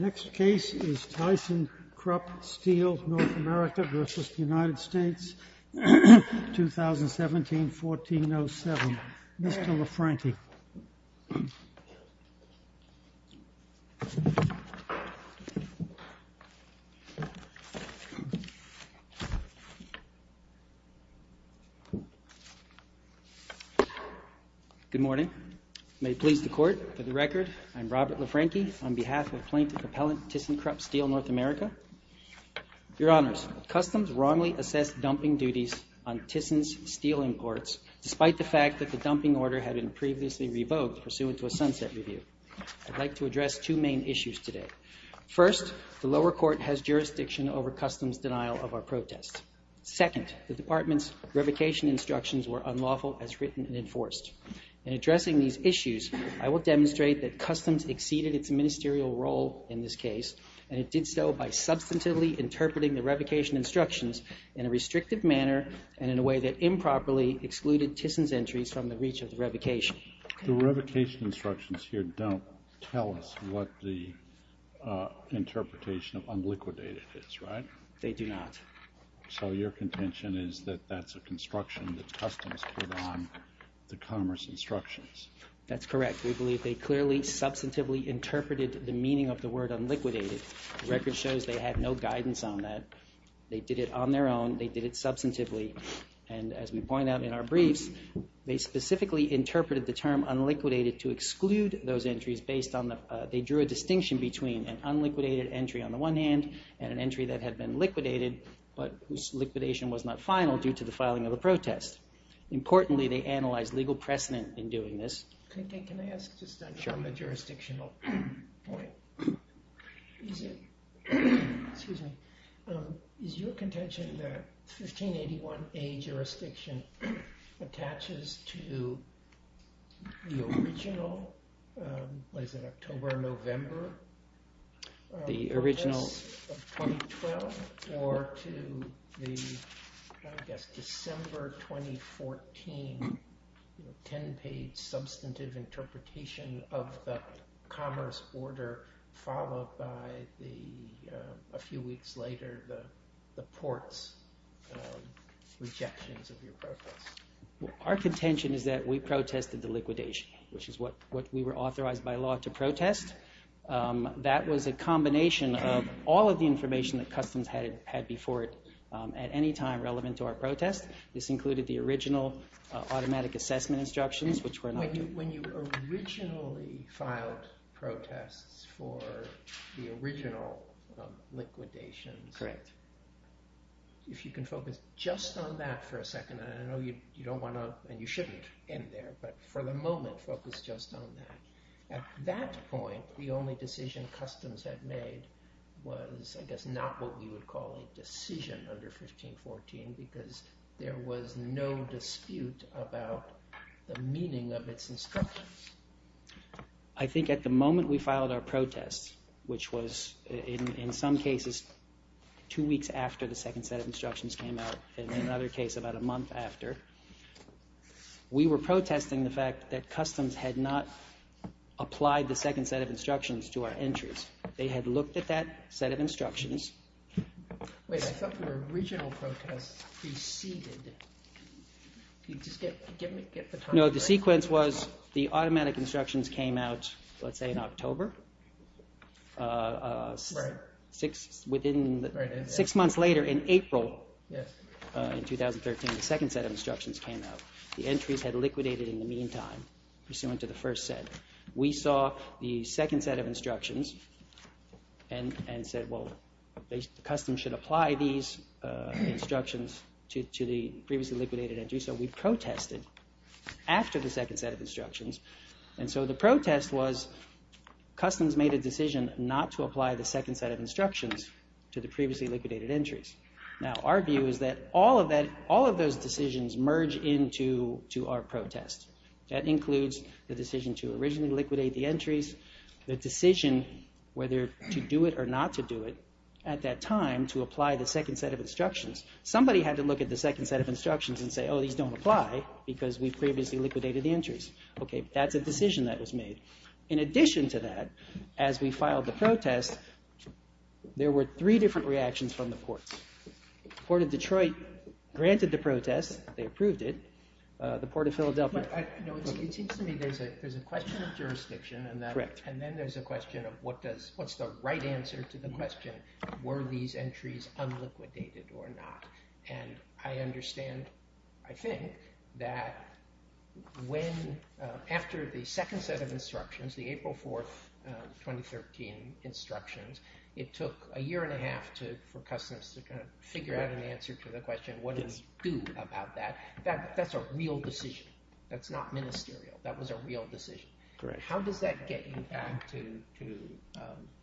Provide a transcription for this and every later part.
2017-14-07 Good morning. May it please the Court, for the record, I'm Robert LaFranchi on behalf of Plaintiff Appellant Thyssenkrupp Steel North America. Your Honors, Customs wrongly assessed dumping duties on Thyssen's steel imports, despite the fact that the dumping order had been previously revoked pursuant to a sunset review. I'd like to address two main issues today. First, the lower court has jurisdiction over Customs' denial of our protest. Second, the Department's revocation instructions were unlawful as written and In addressing these issues, I will demonstrate that Customs exceeded its ministerial role in this case, and it did so by substantively interpreting the revocation instructions in a restrictive manner and in a way that improperly excluded Thyssen's entries from the reach of the revocation. The revocation instructions here don't tell us what the interpretation of unliquidated is, right? They do not. So your contention is that that's a construction that Customs put on the commerce instructions? That's correct. We believe they clearly substantively interpreted the meaning of the word unliquidated. The record shows they had no guidance on that. They did it on their own. They did it substantively. And as we point out in our briefs, they specifically interpreted the term unliquidated to exclude those entries based on the, they drew a distinction between an unliquidated entry on the one hand and an entry that had been liquidated, but whose liquidation was not final due to the filing of the protest. Importantly they analyzed legal precedent in doing this. Can I ask just on the jurisdictional point? Sure. Is it, excuse me, is your contention that 1581A jurisdiction attaches to the original, what is it, October, November? The original... 2012 or to the, I guess, December 2014, 10 page substantive interpretation of the commerce order, followed by the, a few weeks later, the port's rejections of your protest? Our contention is that we protested the liquidation, which is what we were authorized by law to do. That was a combination of all of the information that Customs had before it, at any time relevant to our protest. This included the original automatic assessment instructions, which were not... When you originally filed protests for the original liquidations, if you can focus just on that for a second, and I know you don't want to, and you shouldn't end there, but for the moment, focus just on that. At that point, the only decision Customs had made was, I guess, not what we would call a decision under 1514, because there was no dispute about the meaning of its instructions. I think at the moment we filed our protests, which was, in some cases, two weeks after the second set of instructions came out, and in another case about a month after, we were protesting the fact that Customs had not applied the second set of instructions to our entries. They had looked at that set of instructions... Wait, I thought your original protest preceded... Can you just get the time right? No, the sequence was, the automatic instructions came out, let's say, in October, six months later in April, in 2013, the second set of instructions came out. The entries had liquidated in the meantime, pursuant to the first set. We saw the second set of instructions and said, well, Customs should apply these instructions to the previously liquidated entries, so we protested after the second set of instructions, and so the protest was, Customs made a decision not to apply the second set of instructions to the previously liquidated entries. Now, our view is that all of those decisions merge into our protest. That includes the decision to originally liquidate the entries, the decision whether to do it or not to do it, at that time, to apply the second set of instructions. Somebody had to look at the second set of instructions and say, oh, these don't apply because we previously liquidated the entries. Okay, that's a decision that was made. In addition to that, as we filed the protest, there were three different reactions from the courts. The court of Detroit granted the protest, they approved it. The court of Philadelphia... It seems to me there's a question of jurisdiction, and then there's a question of what's the right answer to the question, were these entries unliquidated or not? I understand, I think, that after the second set of instructions, the April 4th, 2013 instructions, it took a year and a half for customs to figure out an answer to the question, what do we do about that? That's a real decision. That's not ministerial. That was a real decision. Correct. How does that get you back to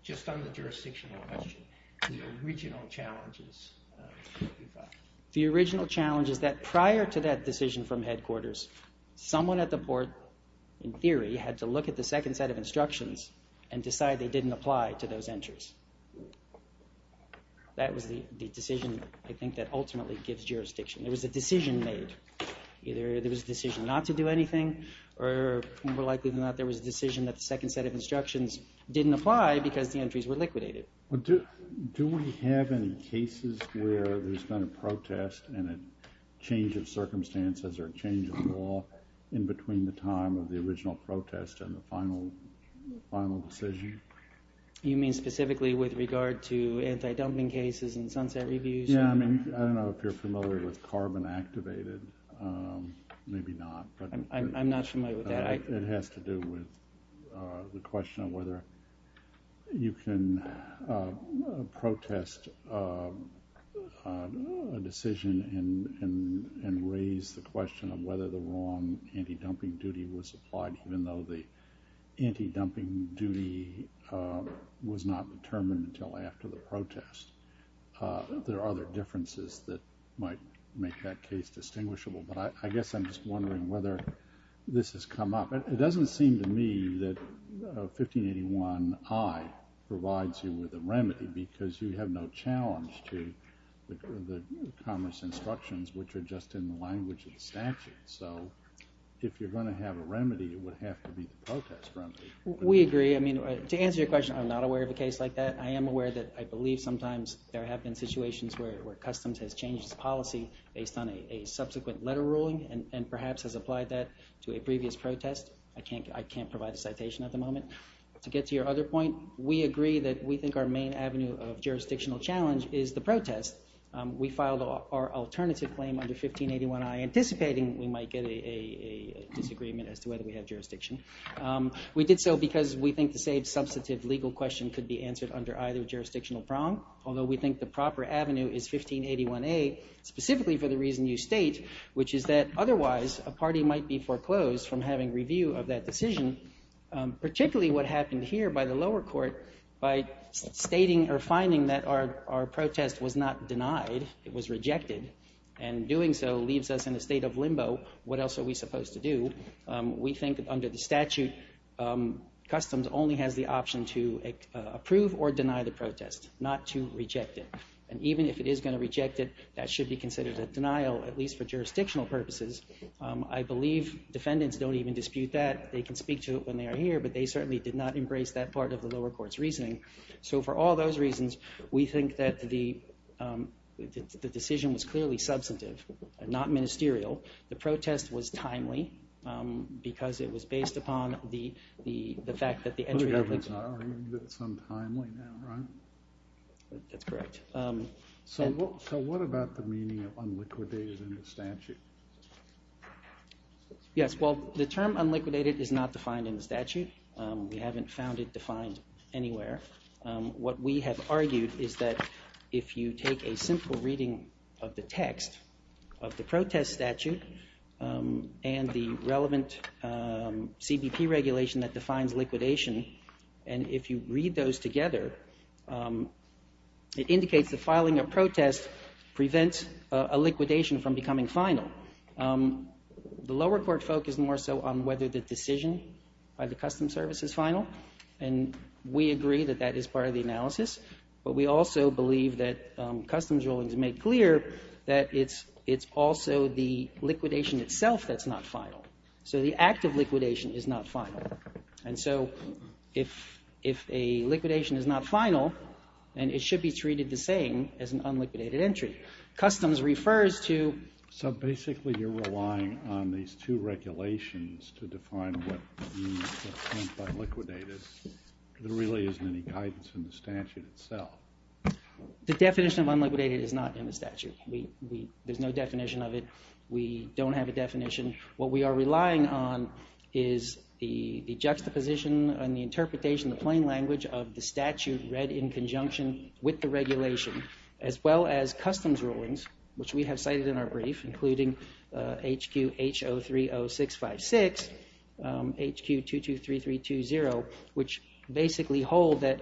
just on the jurisdictional question, the original challenges that you've got? The original challenge is that prior to that decision from headquarters, someone at the port, in theory, had to look at the second set of instructions and decide they didn't apply to those entries. That was the decision, I think, that ultimately gives jurisdiction. It was a decision made. Either it was a decision not to do anything, or more likely than not, there was a decision that the second set of instructions didn't apply because the entries were liquidated. Do we have any cases where there's been a protest and a change of circumstances or a final decision? You mean specifically with regard to anti-dumping cases and sunset reviews? Yeah, I mean, I don't know if you're familiar with carbon-activated, maybe not. I'm not familiar with that. It has to do with the question of whether you can protest a decision and raise the question of whether the wrong anti-dumping duty was applied, even though the anti-dumping duty was not determined until after the protest. There are other differences that might make that case distinguishable, but I guess I'm just wondering whether this has come up. It doesn't seem to me that 1581I provides you with a remedy because you have no challenge to the commerce instructions, which are just in the language of the statute. So if you're going to have a remedy, it would have to be the protest remedy. We agree. I mean, to answer your question, I'm not aware of a case like that. I am aware that I believe sometimes there have been situations where Customs has changed its policy based on a subsequent letter ruling and perhaps has applied that to a previous protest. I can't provide a citation at the moment. To get to your other point, we agree that we think our main avenue of jurisdictional challenge is the protest. We filed our alternative claim under 1581I, anticipating we might get a disagreement as to whether we have jurisdiction. We did so because we think the same substantive legal question could be answered under either jurisdictional prong, although we think the proper avenue is 1581A, specifically for the reason you state, which is that otherwise a party might be foreclosed from having review of that decision, particularly what happened here by the lower court by stating or finding that our protest was not denied, it was rejected, and doing so leaves us in a state of limbo. What else are we supposed to do? We think under the statute, Customs only has the option to approve or deny the protest, not to reject it. And even if it is going to reject it, that should be considered a denial, at least for jurisdictional purposes. I believe defendants don't even dispute that. They can speak to it when they are here, but they certainly did not embrace that part of the lower court's reasoning. So for all those reasons, we think that the decision was clearly substantive, not ministerial. The protest was timely, because it was based upon the fact that the entry of the... The government's arguing that it's untimely now, right? That's correct. So what about the meaning of unliquidated in the statute? Yes, well, the term unliquidated is not defined in the statute. We haven't found it defined anywhere. What we have argued is that if you take a simple reading of the text of the protest statute and the relevant CBP regulation that defines liquidation, and if you read those together, it indicates that filing a protest prevents a liquidation from becoming final. The lower court focused more so on whether the decision by the Customs Service is final, and we agree that that is part of the analysis. But we also believe that Customs ruling has made clear that it's also the liquidation itself that's not final. So the act of liquidation is not final. And so if a liquidation is not final, then it should be treated the same as an unliquidated entry. Customs refers to... So basically you're relying on these two regulations to define what means unliquidated. There really isn't any guidance in the statute itself. The definition of unliquidated is not in the statute. There's no definition of it. We don't have a definition. What we are relying on is the juxtaposition and the interpretation, the plain language, of the statute read in conjunction with the regulation, as well as Customs rulings, which we have cited in our brief, including HQ H030656, HQ 223320, which basically hold that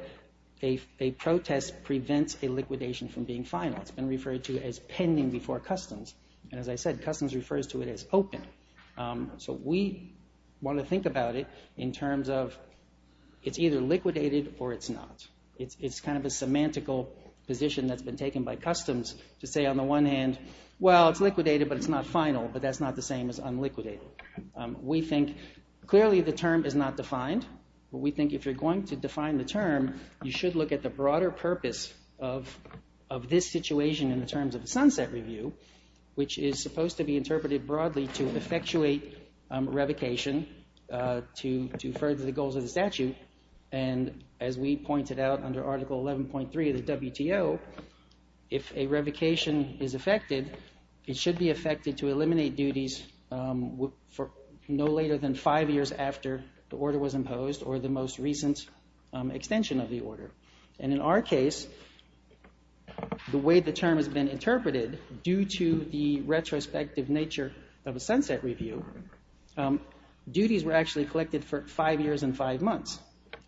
a protest prevents a liquidation from being final. It's been referred to as pending before Customs. And as I said, Customs refers to it as open. So we want to think about it in terms of it's either liquidated or it's not. It's kind of a semantical position that's been taken by Customs to say on the one hand, well, it's liquidated, but it's not final. But that's not the same as unliquidated. We think clearly the term is not defined. But we think if you're going to define the term, you should look at the broader purpose of this situation in terms of the sunset review, which is supposed to be interpreted broadly to effectuate revocation to further the goals of the statute. And as we pointed out under Article 11.3 of the WTO, if a revocation is effected, it should be effected to eliminate duties no later than five years after the order was imposed or the most recent extension of the order. And in our case, the way the term has been interpreted, due to the retrospective nature of a sunset review, duties were actually collected for five years and five months.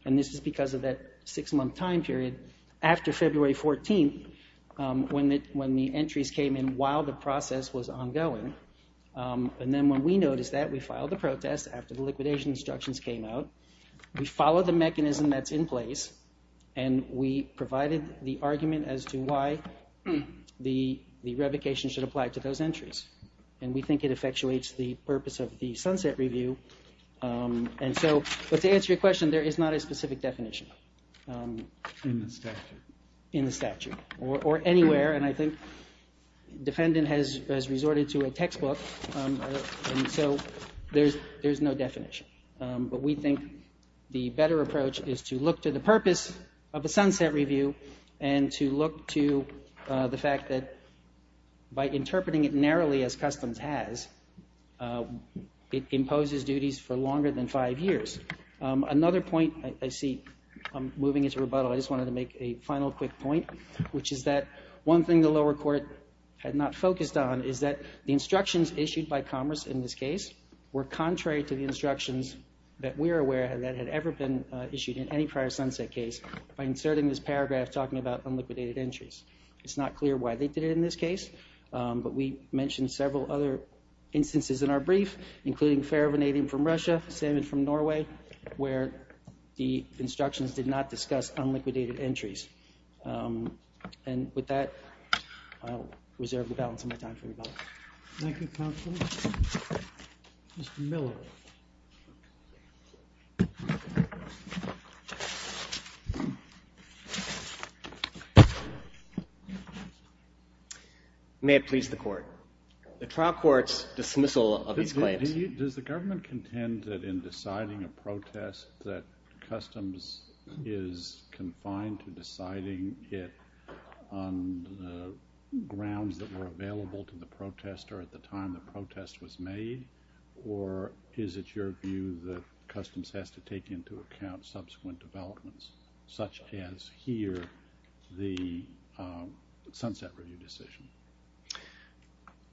And this is because of that six-month time period after February 14th, when the entries came in while the process was ongoing. And then when we noticed that, we filed a protest after the liquidation instructions came out. We followed the mechanism that's in place, and we provided the argument as to why the revocation should apply to those entries. And we think it effectuates the purpose of the sunset review. And so, but to answer your question, there is not a specific definition. In the statute? In the statute, or anywhere. And I think the defendant has resorted to a textbook, and so there's no definition. But we think the better approach is to look to the purpose of a sunset review and to look to the fact that by interpreting it narrowly as Customs has, it imposes duties for longer than five years. Another point I see, I'm moving into rebuttal, I just wanted to make a final quick point, which is that one thing the lower court had not focused on is that the instructions issued by Commerce in this case were contrary to the instructions that we're aware had ever been issued in any prior sunset case by inserting this paragraph talking about unliquidated entries. It's not clear why they did it in this case, but we mentioned several other instances in our brief, including ferrovanadium from Russia, cement from Norway, where the instructions did not discuss unliquidated entries. And with that, I'll reserve the balance of my time for rebuttal. Thank you, counsel. Mr. Miller. May it please the court. The trial court's dismissal of these claims. Does the government contend that in deciding a protest that Customs is confined to deciding it on the grounds that were available to the protester at the time the protest was made? Or is it your view that Customs has to take into account subsequent developments? Such as here, the Sunset Review decision.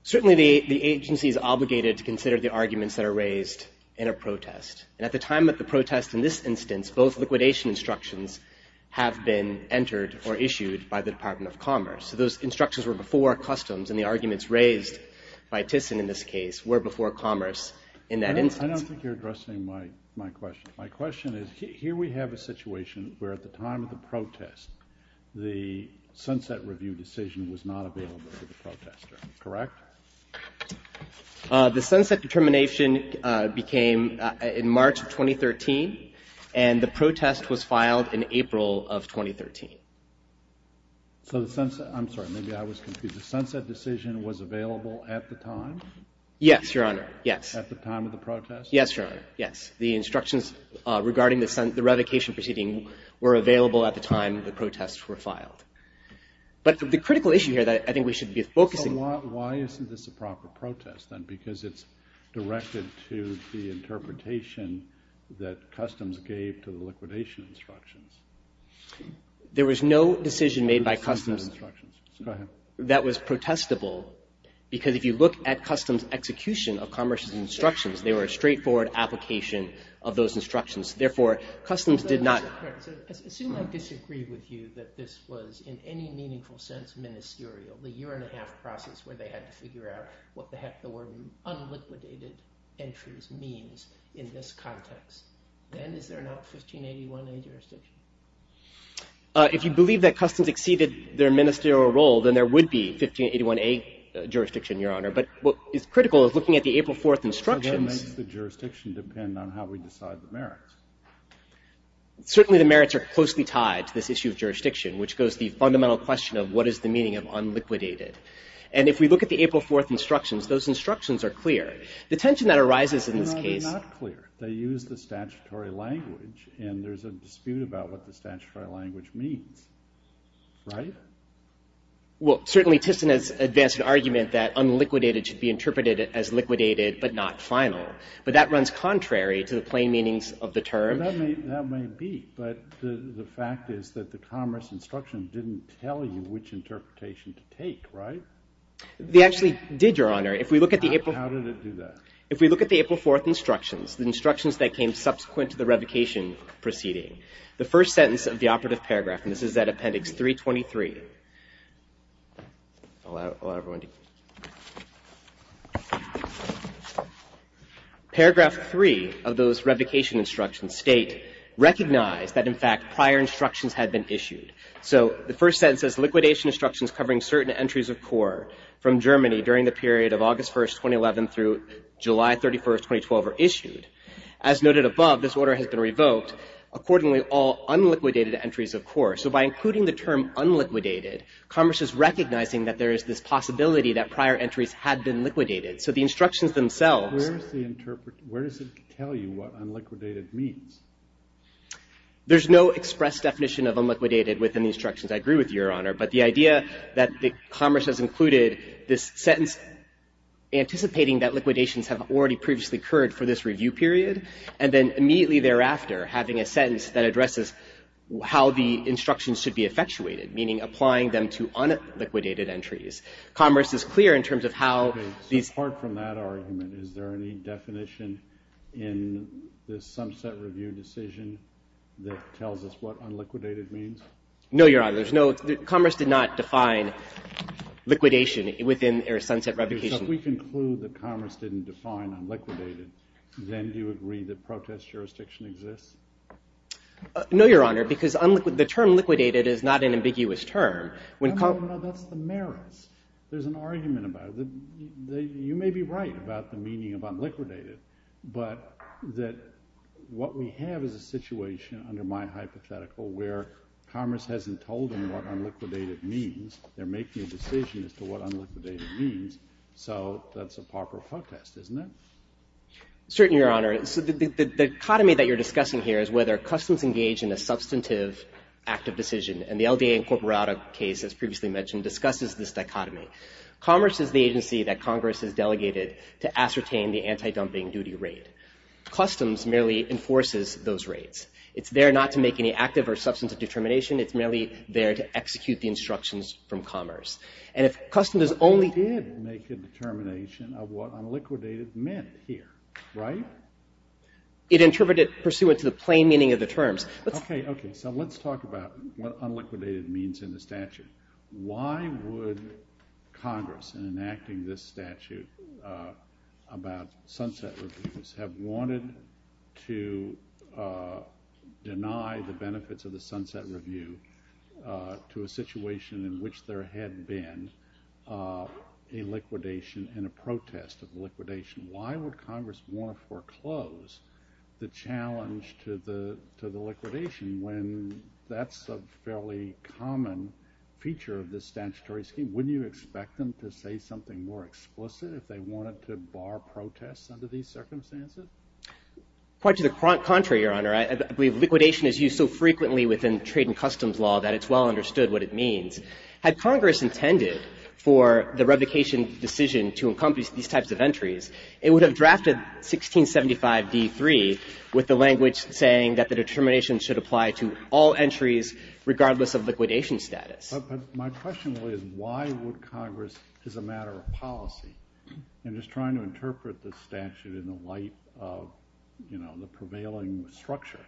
Certainly the agency is obligated to consider the arguments that are raised in a protest. And at the time of the protest in this instance, both liquidation instructions have been entered or issued by the Department of Commerce. So those instructions were before Customs and the arguments raised by Thyssen in this case were before Commerce in that instance. I don't think you're addressing my question. My question is, here we have a situation where at the time of the protest the Sunset Review decision was not available to the protester, correct? The Sunset determination became in March of 2013 and the protest was filed in April of 2013. So the Sunset, I'm sorry, maybe I was confused. The Sunset decision was available at the time? At the time of the protest? Yes, Your Honor, yes. The instructions regarding the revocation proceeding were available at the time the protests were filed. But the critical issue here that I think we should be focusing... So why isn't this a proper protest then? Because it's directed to the interpretation that Customs gave to the liquidation instructions. There was no decision made by Customs that was protestable because if you look at Customs' execution of Commerce's instructions they were a straightforward application of those instructions. Therefore, Customs did not... Assume I disagree with you that this was in any meaningful sense ministerial. The year and a half process where they had to figure out what the word unliquidated entries means in this context. Then is there not 1581A jurisdiction? If you believe that Customs exceeded their ministerial role then there would be 1581A jurisdiction, Your Honor. But what is critical is looking at the April 4th instructions... That makes the jurisdiction depend on how we decide the merits. Certainly the merits are closely tied to this issue of jurisdiction which goes to the fundamental question of what is the meaning of unliquidated. And if we look at the April 4th instructions, those instructions are clear. The tension that arises in this case... No, they're not clear. They use the statutory language and there's a dispute about what the statutory language means. Right? Well, certainly, Tiffson has advanced an argument that unliquidated should be interpreted as liquidated but not final. But that runs contrary to the plain meanings of the term. That may be. But the fact is that the Commerce instructions didn't tell you which interpretation to take, right? They actually did, Your Honor. If we look at the April... How did it do that? If we look at the April 4th instructions, the instructions that came subsequent to the revocation proceeding, the first sentence of the operative paragraph, and this is at Appendix 323... Paragraph 3 of those revocation instructions state, recognize that, in fact, prior instructions had been issued. So the first sentence says, liquidation instructions covering certain entries of core from Germany during the period of August 1st, 2011, through July 31st, 2012, are issued. As noted above, this order has been revoked accordingly all unliquidated entries of core. So by including the term unliquidated, Commerce is recognizing that there is this possibility that prior entries had been liquidated. So the instructions themselves... Where does it tell you what unliquidated means? There's no express definition of unliquidated within the instructions. I agree with you, Your Honor. But the idea that Commerce has included this sentence anticipating that liquidations have already previously occurred for this review period, and then immediately thereafter having a sentence that addresses how the instructions should be effectuated, meaning applying them to unliquidated entries. Commerce is clear in terms of how... Okay, so apart from that argument, is there any definition in this Sunset Review decision that tells us what unliquidated means? No, Your Honor, there's no... Commerce did not define liquidation within Sunset Revocation. If we conclude that Commerce didn't define unliquidated, then do you agree that protest jurisdiction exists? No, Your Honor, because the term liquidated is not an ambiguous term. No, no, no, that's the merits. There's an argument about it. You may be right about the meaning of unliquidated, but what we have is a situation, under my hypothetical, where Commerce hasn't told them what unliquidated means. They're making a decision as to what unliquidated means, so that's a proper protest, isn't it? Certainly, Your Honor. The dichotomy that you're discussing here is whether Customs engage in a substantive active decision, and the LDA Incorporado case, as previously mentioned, discusses this dichotomy. Commerce is the agency that Congress has delegated to ascertain the anti-dumping duty rate. Customs merely enforces those rates. It's there not to make any active or substantive determination. It's merely there to execute the instructions from Commerce. And if Customs is only... of what unliquidated meant here, right? It interpreted pursuant to the plain meaning of the terms. Okay, okay, so let's talk about what unliquidated means in the statute. Why would Congress, in enacting this statute about sunset reviews, have wanted to deny the benefits of the sunset review to a situation in which there had been a liquidation and a protest of the liquidation? Why would Congress want to foreclose the challenge to the liquidation when that's a fairly common feature of this statutory scheme? Wouldn't you expect them to say something more explicit if they wanted to bar protests under these circumstances? Quite to the contrary, Your Honor. I believe liquidation is used so frequently within trade and customs law that it's well understood what it means. Had Congress intended for the revocation decision to encompass these types of entries, it would have drafted 1675d3 with the language saying that the determination should apply to all entries regardless of liquidation status. But my question really is why would Congress, as a matter of policy, and just trying to interpret this statute in the light of, you know, the prevailing structure,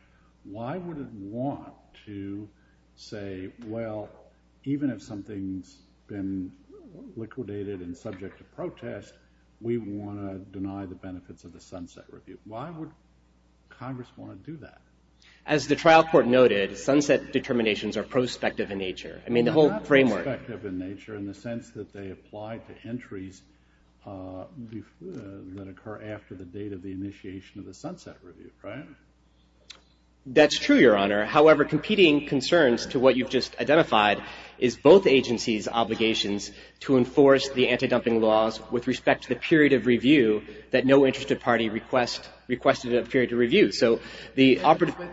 why would it want to say, well, even if something's been liquidated and subject to protest, we want to deny the benefits of the sunset review? Why would Congress want to do that? As the trial court noted, sunset determinations are prospective in nature. I mean, the whole framework... Well, they're not prospective in nature in the sense that they apply to entries that occur after the date of the initiation of the sunset review, right? That's true, Your Honor. However, competing concerns to what you've just identified is both agencies' obligations to enforce the anti-dumping laws with respect to the period of review that no interested party requested a period of review. So the operative... Well,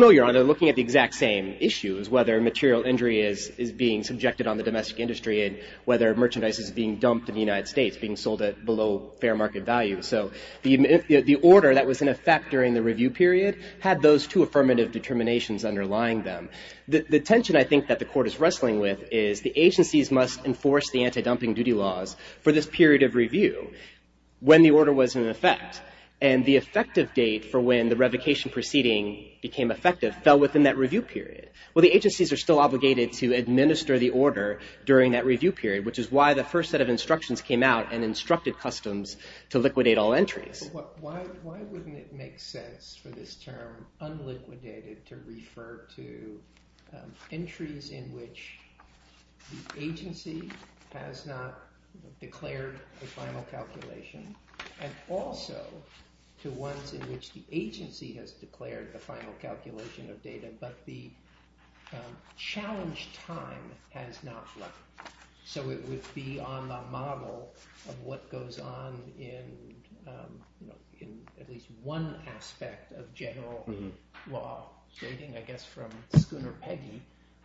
no, Your Honor. They're looking at the exact same issues, whether material injury is being subjected on the domestic industry and whether merchandise is being dumped in the United States, being sold at below fair market value. So the order that was in effect during the review period had those two affirmative determinations underlying them. The tension, I think, that the court is wrestling with is the agencies must enforce the anti-dumping duty laws for this period of review when the order was in effect. And the effective date for when the revocation proceeding became effective fell within that review period. Well, the agencies are still obligated to administer the order during that review period, which is why the first set of instructions came out and instructed customs to liquidate all entries. But why wouldn't it make sense for this term, unliquidated, to refer to entries in which the agency has not declared a final calculation and also to ones in which the agency has declared the final calculation of data but the challenge time has not left? So it would be on the model of what goes on in at least one aspect of general law stating, I guess from Schooner Peggy,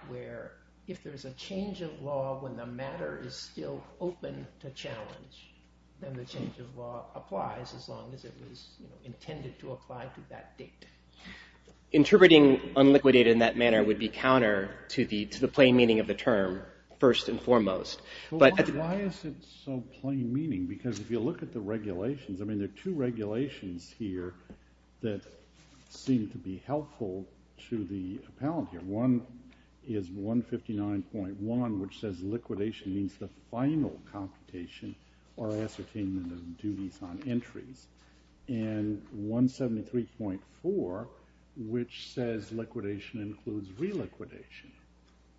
where if there's a change of law when the matter is still open to challenge, then the change of law applies as long as it was intended to apply to that date. Interpreting unliquidated in that manner would be counter to the plain meaning of the term first and foremost. Why is it so plain meaning? Because if you look at the regulations, I mean, there are two regulations here that seem to be helpful to the appellant here. One is 159.1, which says liquidation means the final computation or ascertainment of duties on entries, and 173.4, which says liquidation includes reliquidation.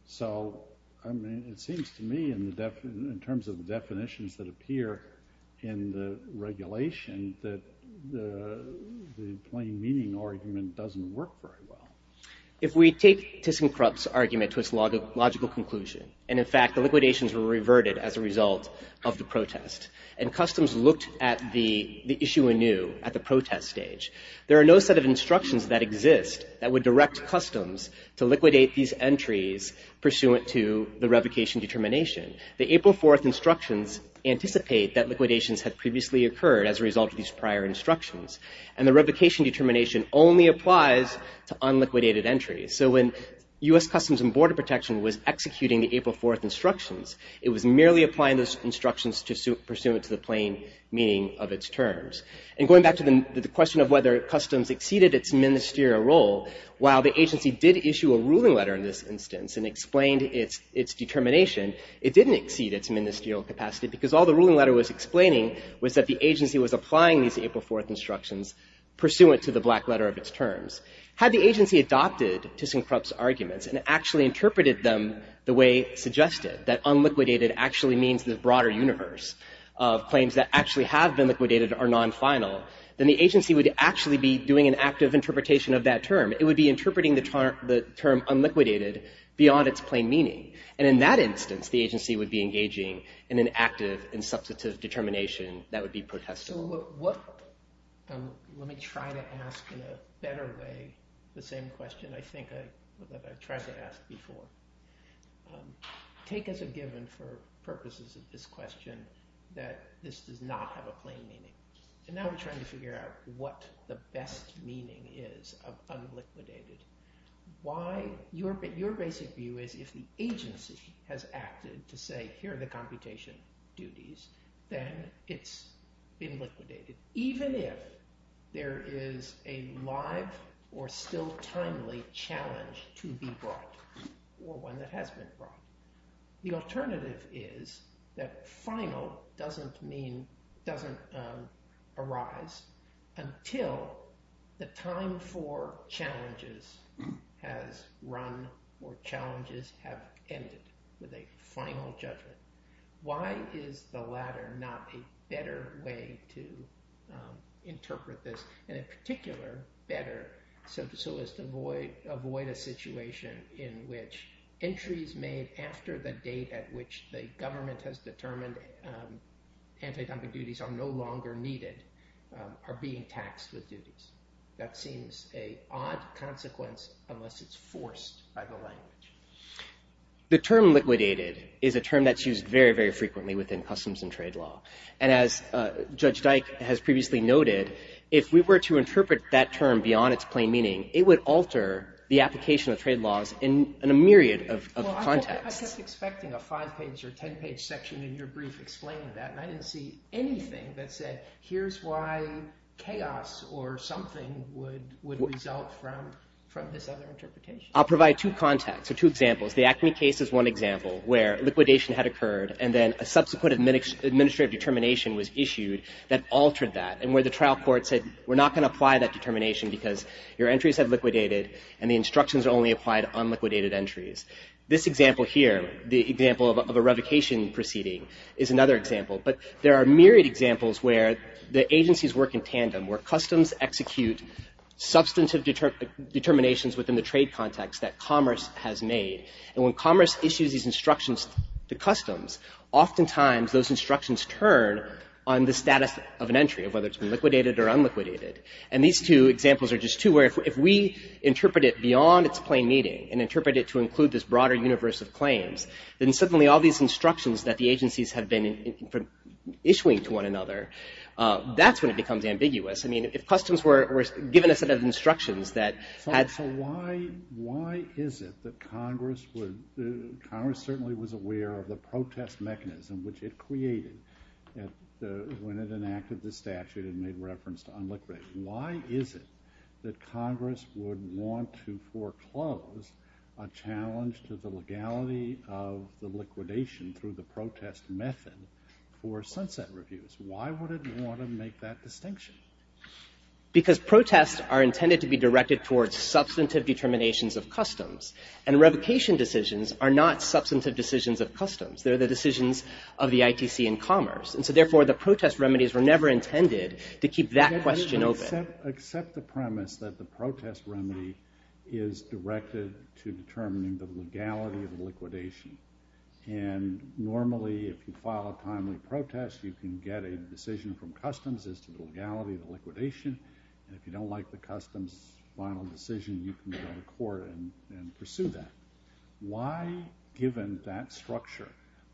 So, I mean, it seems to me in terms of the definitions that appear in the regulation that the plain meaning argument doesn't work very well. If we take ThyssenKrupp's argument to its logical conclusion, and in fact the liquidations were reverted as a result of the protest, and customs looked at the issue anew at the protest stage, there are no set of instructions that exist that would direct customs to liquidate these entries pursuant to the revocation determination. The April 4th instructions anticipate that liquidations had previously occurred as a result of these prior instructions, and the revocation determination only applies to unliquidated entries. So when U.S. Customs and Border Protection was executing the April 4th instructions, it was merely applying those instructions pursuant to the plain meaning of its terms. And going back to the question of whether customs exceeded its ministerial role, while the agency did issue a ruling letter in this instance and explained its determination, it didn't exceed its ministerial capacity because all the ruling letter was explaining was that the agency was applying these April 4th instructions pursuant to the black letter of its terms. Had the agency adopted ThyssenKrupp's arguments and actually interpreted them the way suggested, that unliquidated actually means the broader universe of claims that actually have been liquidated are non-final, then the agency would actually be doing an active interpretation of that term. It would be interpreting the term unliquidated beyond its plain meaning. And in that instance, the agency would be engaging in an active and substantive determination that would be protestable. Let me try to ask in a better way the same question I think I've tried to ask before. Take as a given for purposes of this question that this does not have a plain meaning. And now we're trying to figure out what the best meaning is of unliquidated. Your basic view is if the agency has acted to say, here are the computation duties, then it's been liquidated, even if there is a live or still timely challenge to be brought or one that has been brought. The alternative is that final doesn't arise until the time for challenges has run or challenges have ended with a final judgment. Why is the latter not a better way to interpret this and in particular better so as to avoid a situation in which entries made after the date at which the government has determined anti-conflict duties are no longer needed are being taxed with duties? That seems a odd consequence unless it's forced by the language. The term liquidated is a term that's used very, very frequently within customs and trade law. And as Judge Dyke has previously noted, if we were to interpret that term beyond its plain meaning, it would alter the application of trade laws in a myriad of contexts. I was expecting a five-page or ten-page section in your brief explaining that, and I didn't see anything that said, here's why chaos or something would result from this other interpretation. I'll provide two contexts or two examples. The Acme case is one example where liquidation had occurred and then a subsequent administrative determination was issued that altered that and where the trial court said, we're not going to apply that determination because your entries have liquidated and the instructions are only applied on liquidated entries. This example here, the example of a revocation proceeding, is another example. But there are myriad examples where the agencies work in tandem, where customs execute substantive determinations within the trade context that commerce has made. And when commerce issues these instructions to customs, oftentimes those instructions turn on the status of an entry, of whether it's been liquidated or unliquidated. And these two examples are just two where if we interpret it beyond its plain meaning and interpret it to include this broader universe of claims, then suddenly all these instructions that the agencies have been issuing to one another, that's when it becomes ambiguous. I mean, if customs were given a set of instructions that had... So why is it that Congress would... Congress certainly was aware of the protest mechanism which it created when it enacted the statute and made reference to unliquidated. Why is it that Congress would want to foreclose a challenge to the legality of the liquidation through the protest method for sunset reviews? Why would it want to make that distinction? Because protests are intended to be directed towards substantive determinations of customs. And revocation decisions are not substantive decisions of customs. They're the decisions of the ITC and commerce. And so therefore the protest remedies were never intended to keep that question open. Except the premise that the protest remedy is directed to determining the legality of the liquidation. And normally if you file a timely protest, you can get a decision from customs as to the legality of the liquidation. And if you don't like the customs final decision, you can go to court and pursue that. Why, given that structure,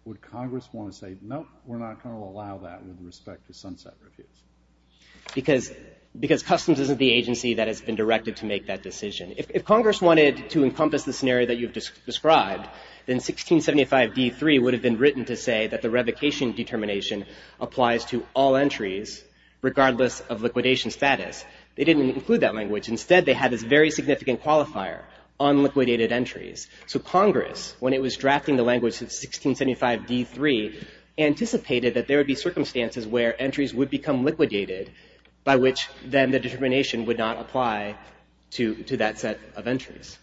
would Congress want to say, nope, we're not going to allow that with respect to sunset reviews? Because customs isn't the agency that has been directed to make that decision. If Congress wanted to encompass the scenario that you've described, then 1675d3 would have been written to say that the revocation determination applies to all entries, regardless of liquidation status. They didn't include that language. Instead they had this very significant qualifier, unliquidated entries. So Congress, when it was drafting the language of 1675d3, anticipated that there would be circumstances where entries would become liquidated, by which then the determination would not apply to that set of entries.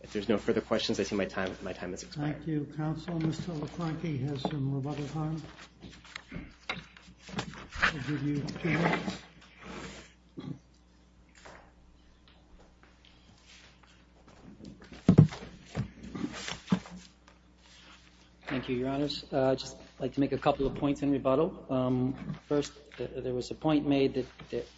If there's no further questions, I see my time has expired. Thank you, counsel. Mr. LaFranchi has some rebuttal time. I'll give you a chance. Thank you, your honors. I'd just like to make a couple of points in rebuttal. First, there was a point made that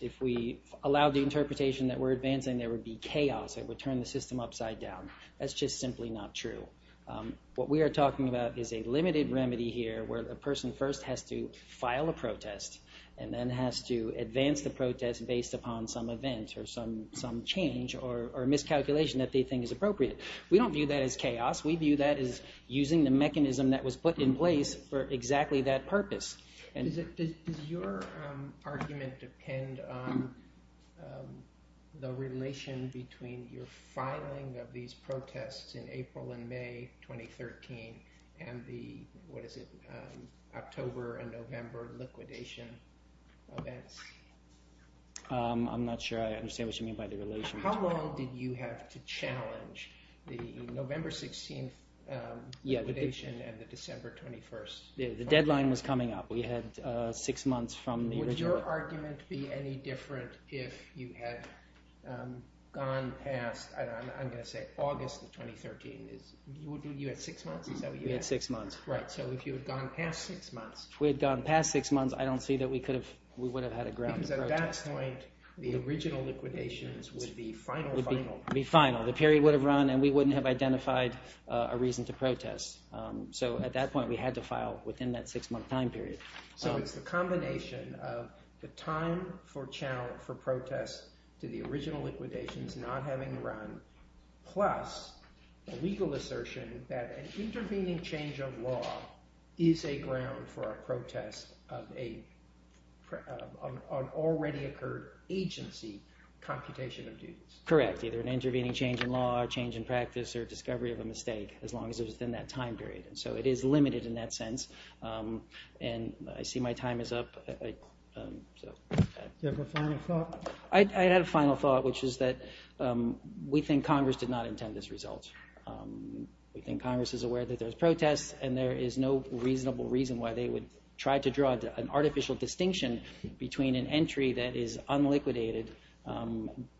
if we allowed the interpretation that we're advancing, there would be chaos. It would turn the system upside down. That's just simply not true. What we are talking about is a limited remedy here where the person first has to file a protest and then has to advance the protest based upon some event or some change or miscalculation that they think is appropriate. We don't view that as chaos. We view that as using the mechanism that was put in place for exactly that purpose. Does your argument depend on the relation between your filing of these protests in April and May 2013 and the, what is it, October and November liquidation events? I'm not sure I understand what you mean by the relation. How long did you have to challenge the November 16th liquidation and the December 21st? The deadline was coming up. We had six months from the original. Would your argument be any different if you had gone past, I'm going to say August of 2013? You had six months? We had six months. Right, so if you had gone past six months. If we had gone past six months, I don't see that we would have had a ground to protest. Because at that point, the original liquidations would be final. Would be final. The period would have run and we wouldn't have identified a reason to protest. So at that point, we had to file within that six-month time period. So it's the combination of the time for protest to the original liquidations not having run plus the legal assertion that an intervening change of law is a ground for a protest of an already occurred agency computation of duties. Correct, either an intervening change in law, change in practice, or discovery of a mistake as long as it was within that time period. So it is limited in that sense. And I see my time is up. Do you have a final thought? I had a final thought, which is that we think Congress did not intend this result. We think Congress is aware that there's protests and there is no reasonable reason why they would try to draw an artificial distinction between an entry that is unliquidated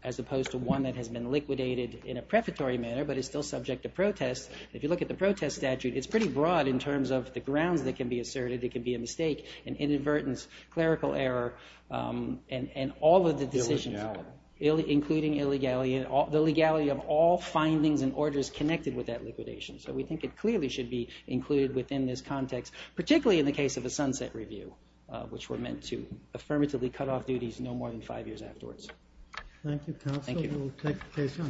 as opposed to one that has been liquidated in a prefatory manner but is still subject to protest. If you look at the protest statute, it's pretty broad in terms of the grounds that can be asserted. It can be a mistake, an inadvertence, clerical error, and all of the decisions. Including illegality. Including illegality. The legality of all findings and orders connected with that liquidation. So we think it clearly should be included within this context, particularly in the case of the Sunset Review, which were meant to affirmatively cut off duties no more than five years afterwards. Thank you, counsel. Thank you. We'll take the case on your behalf. All rise.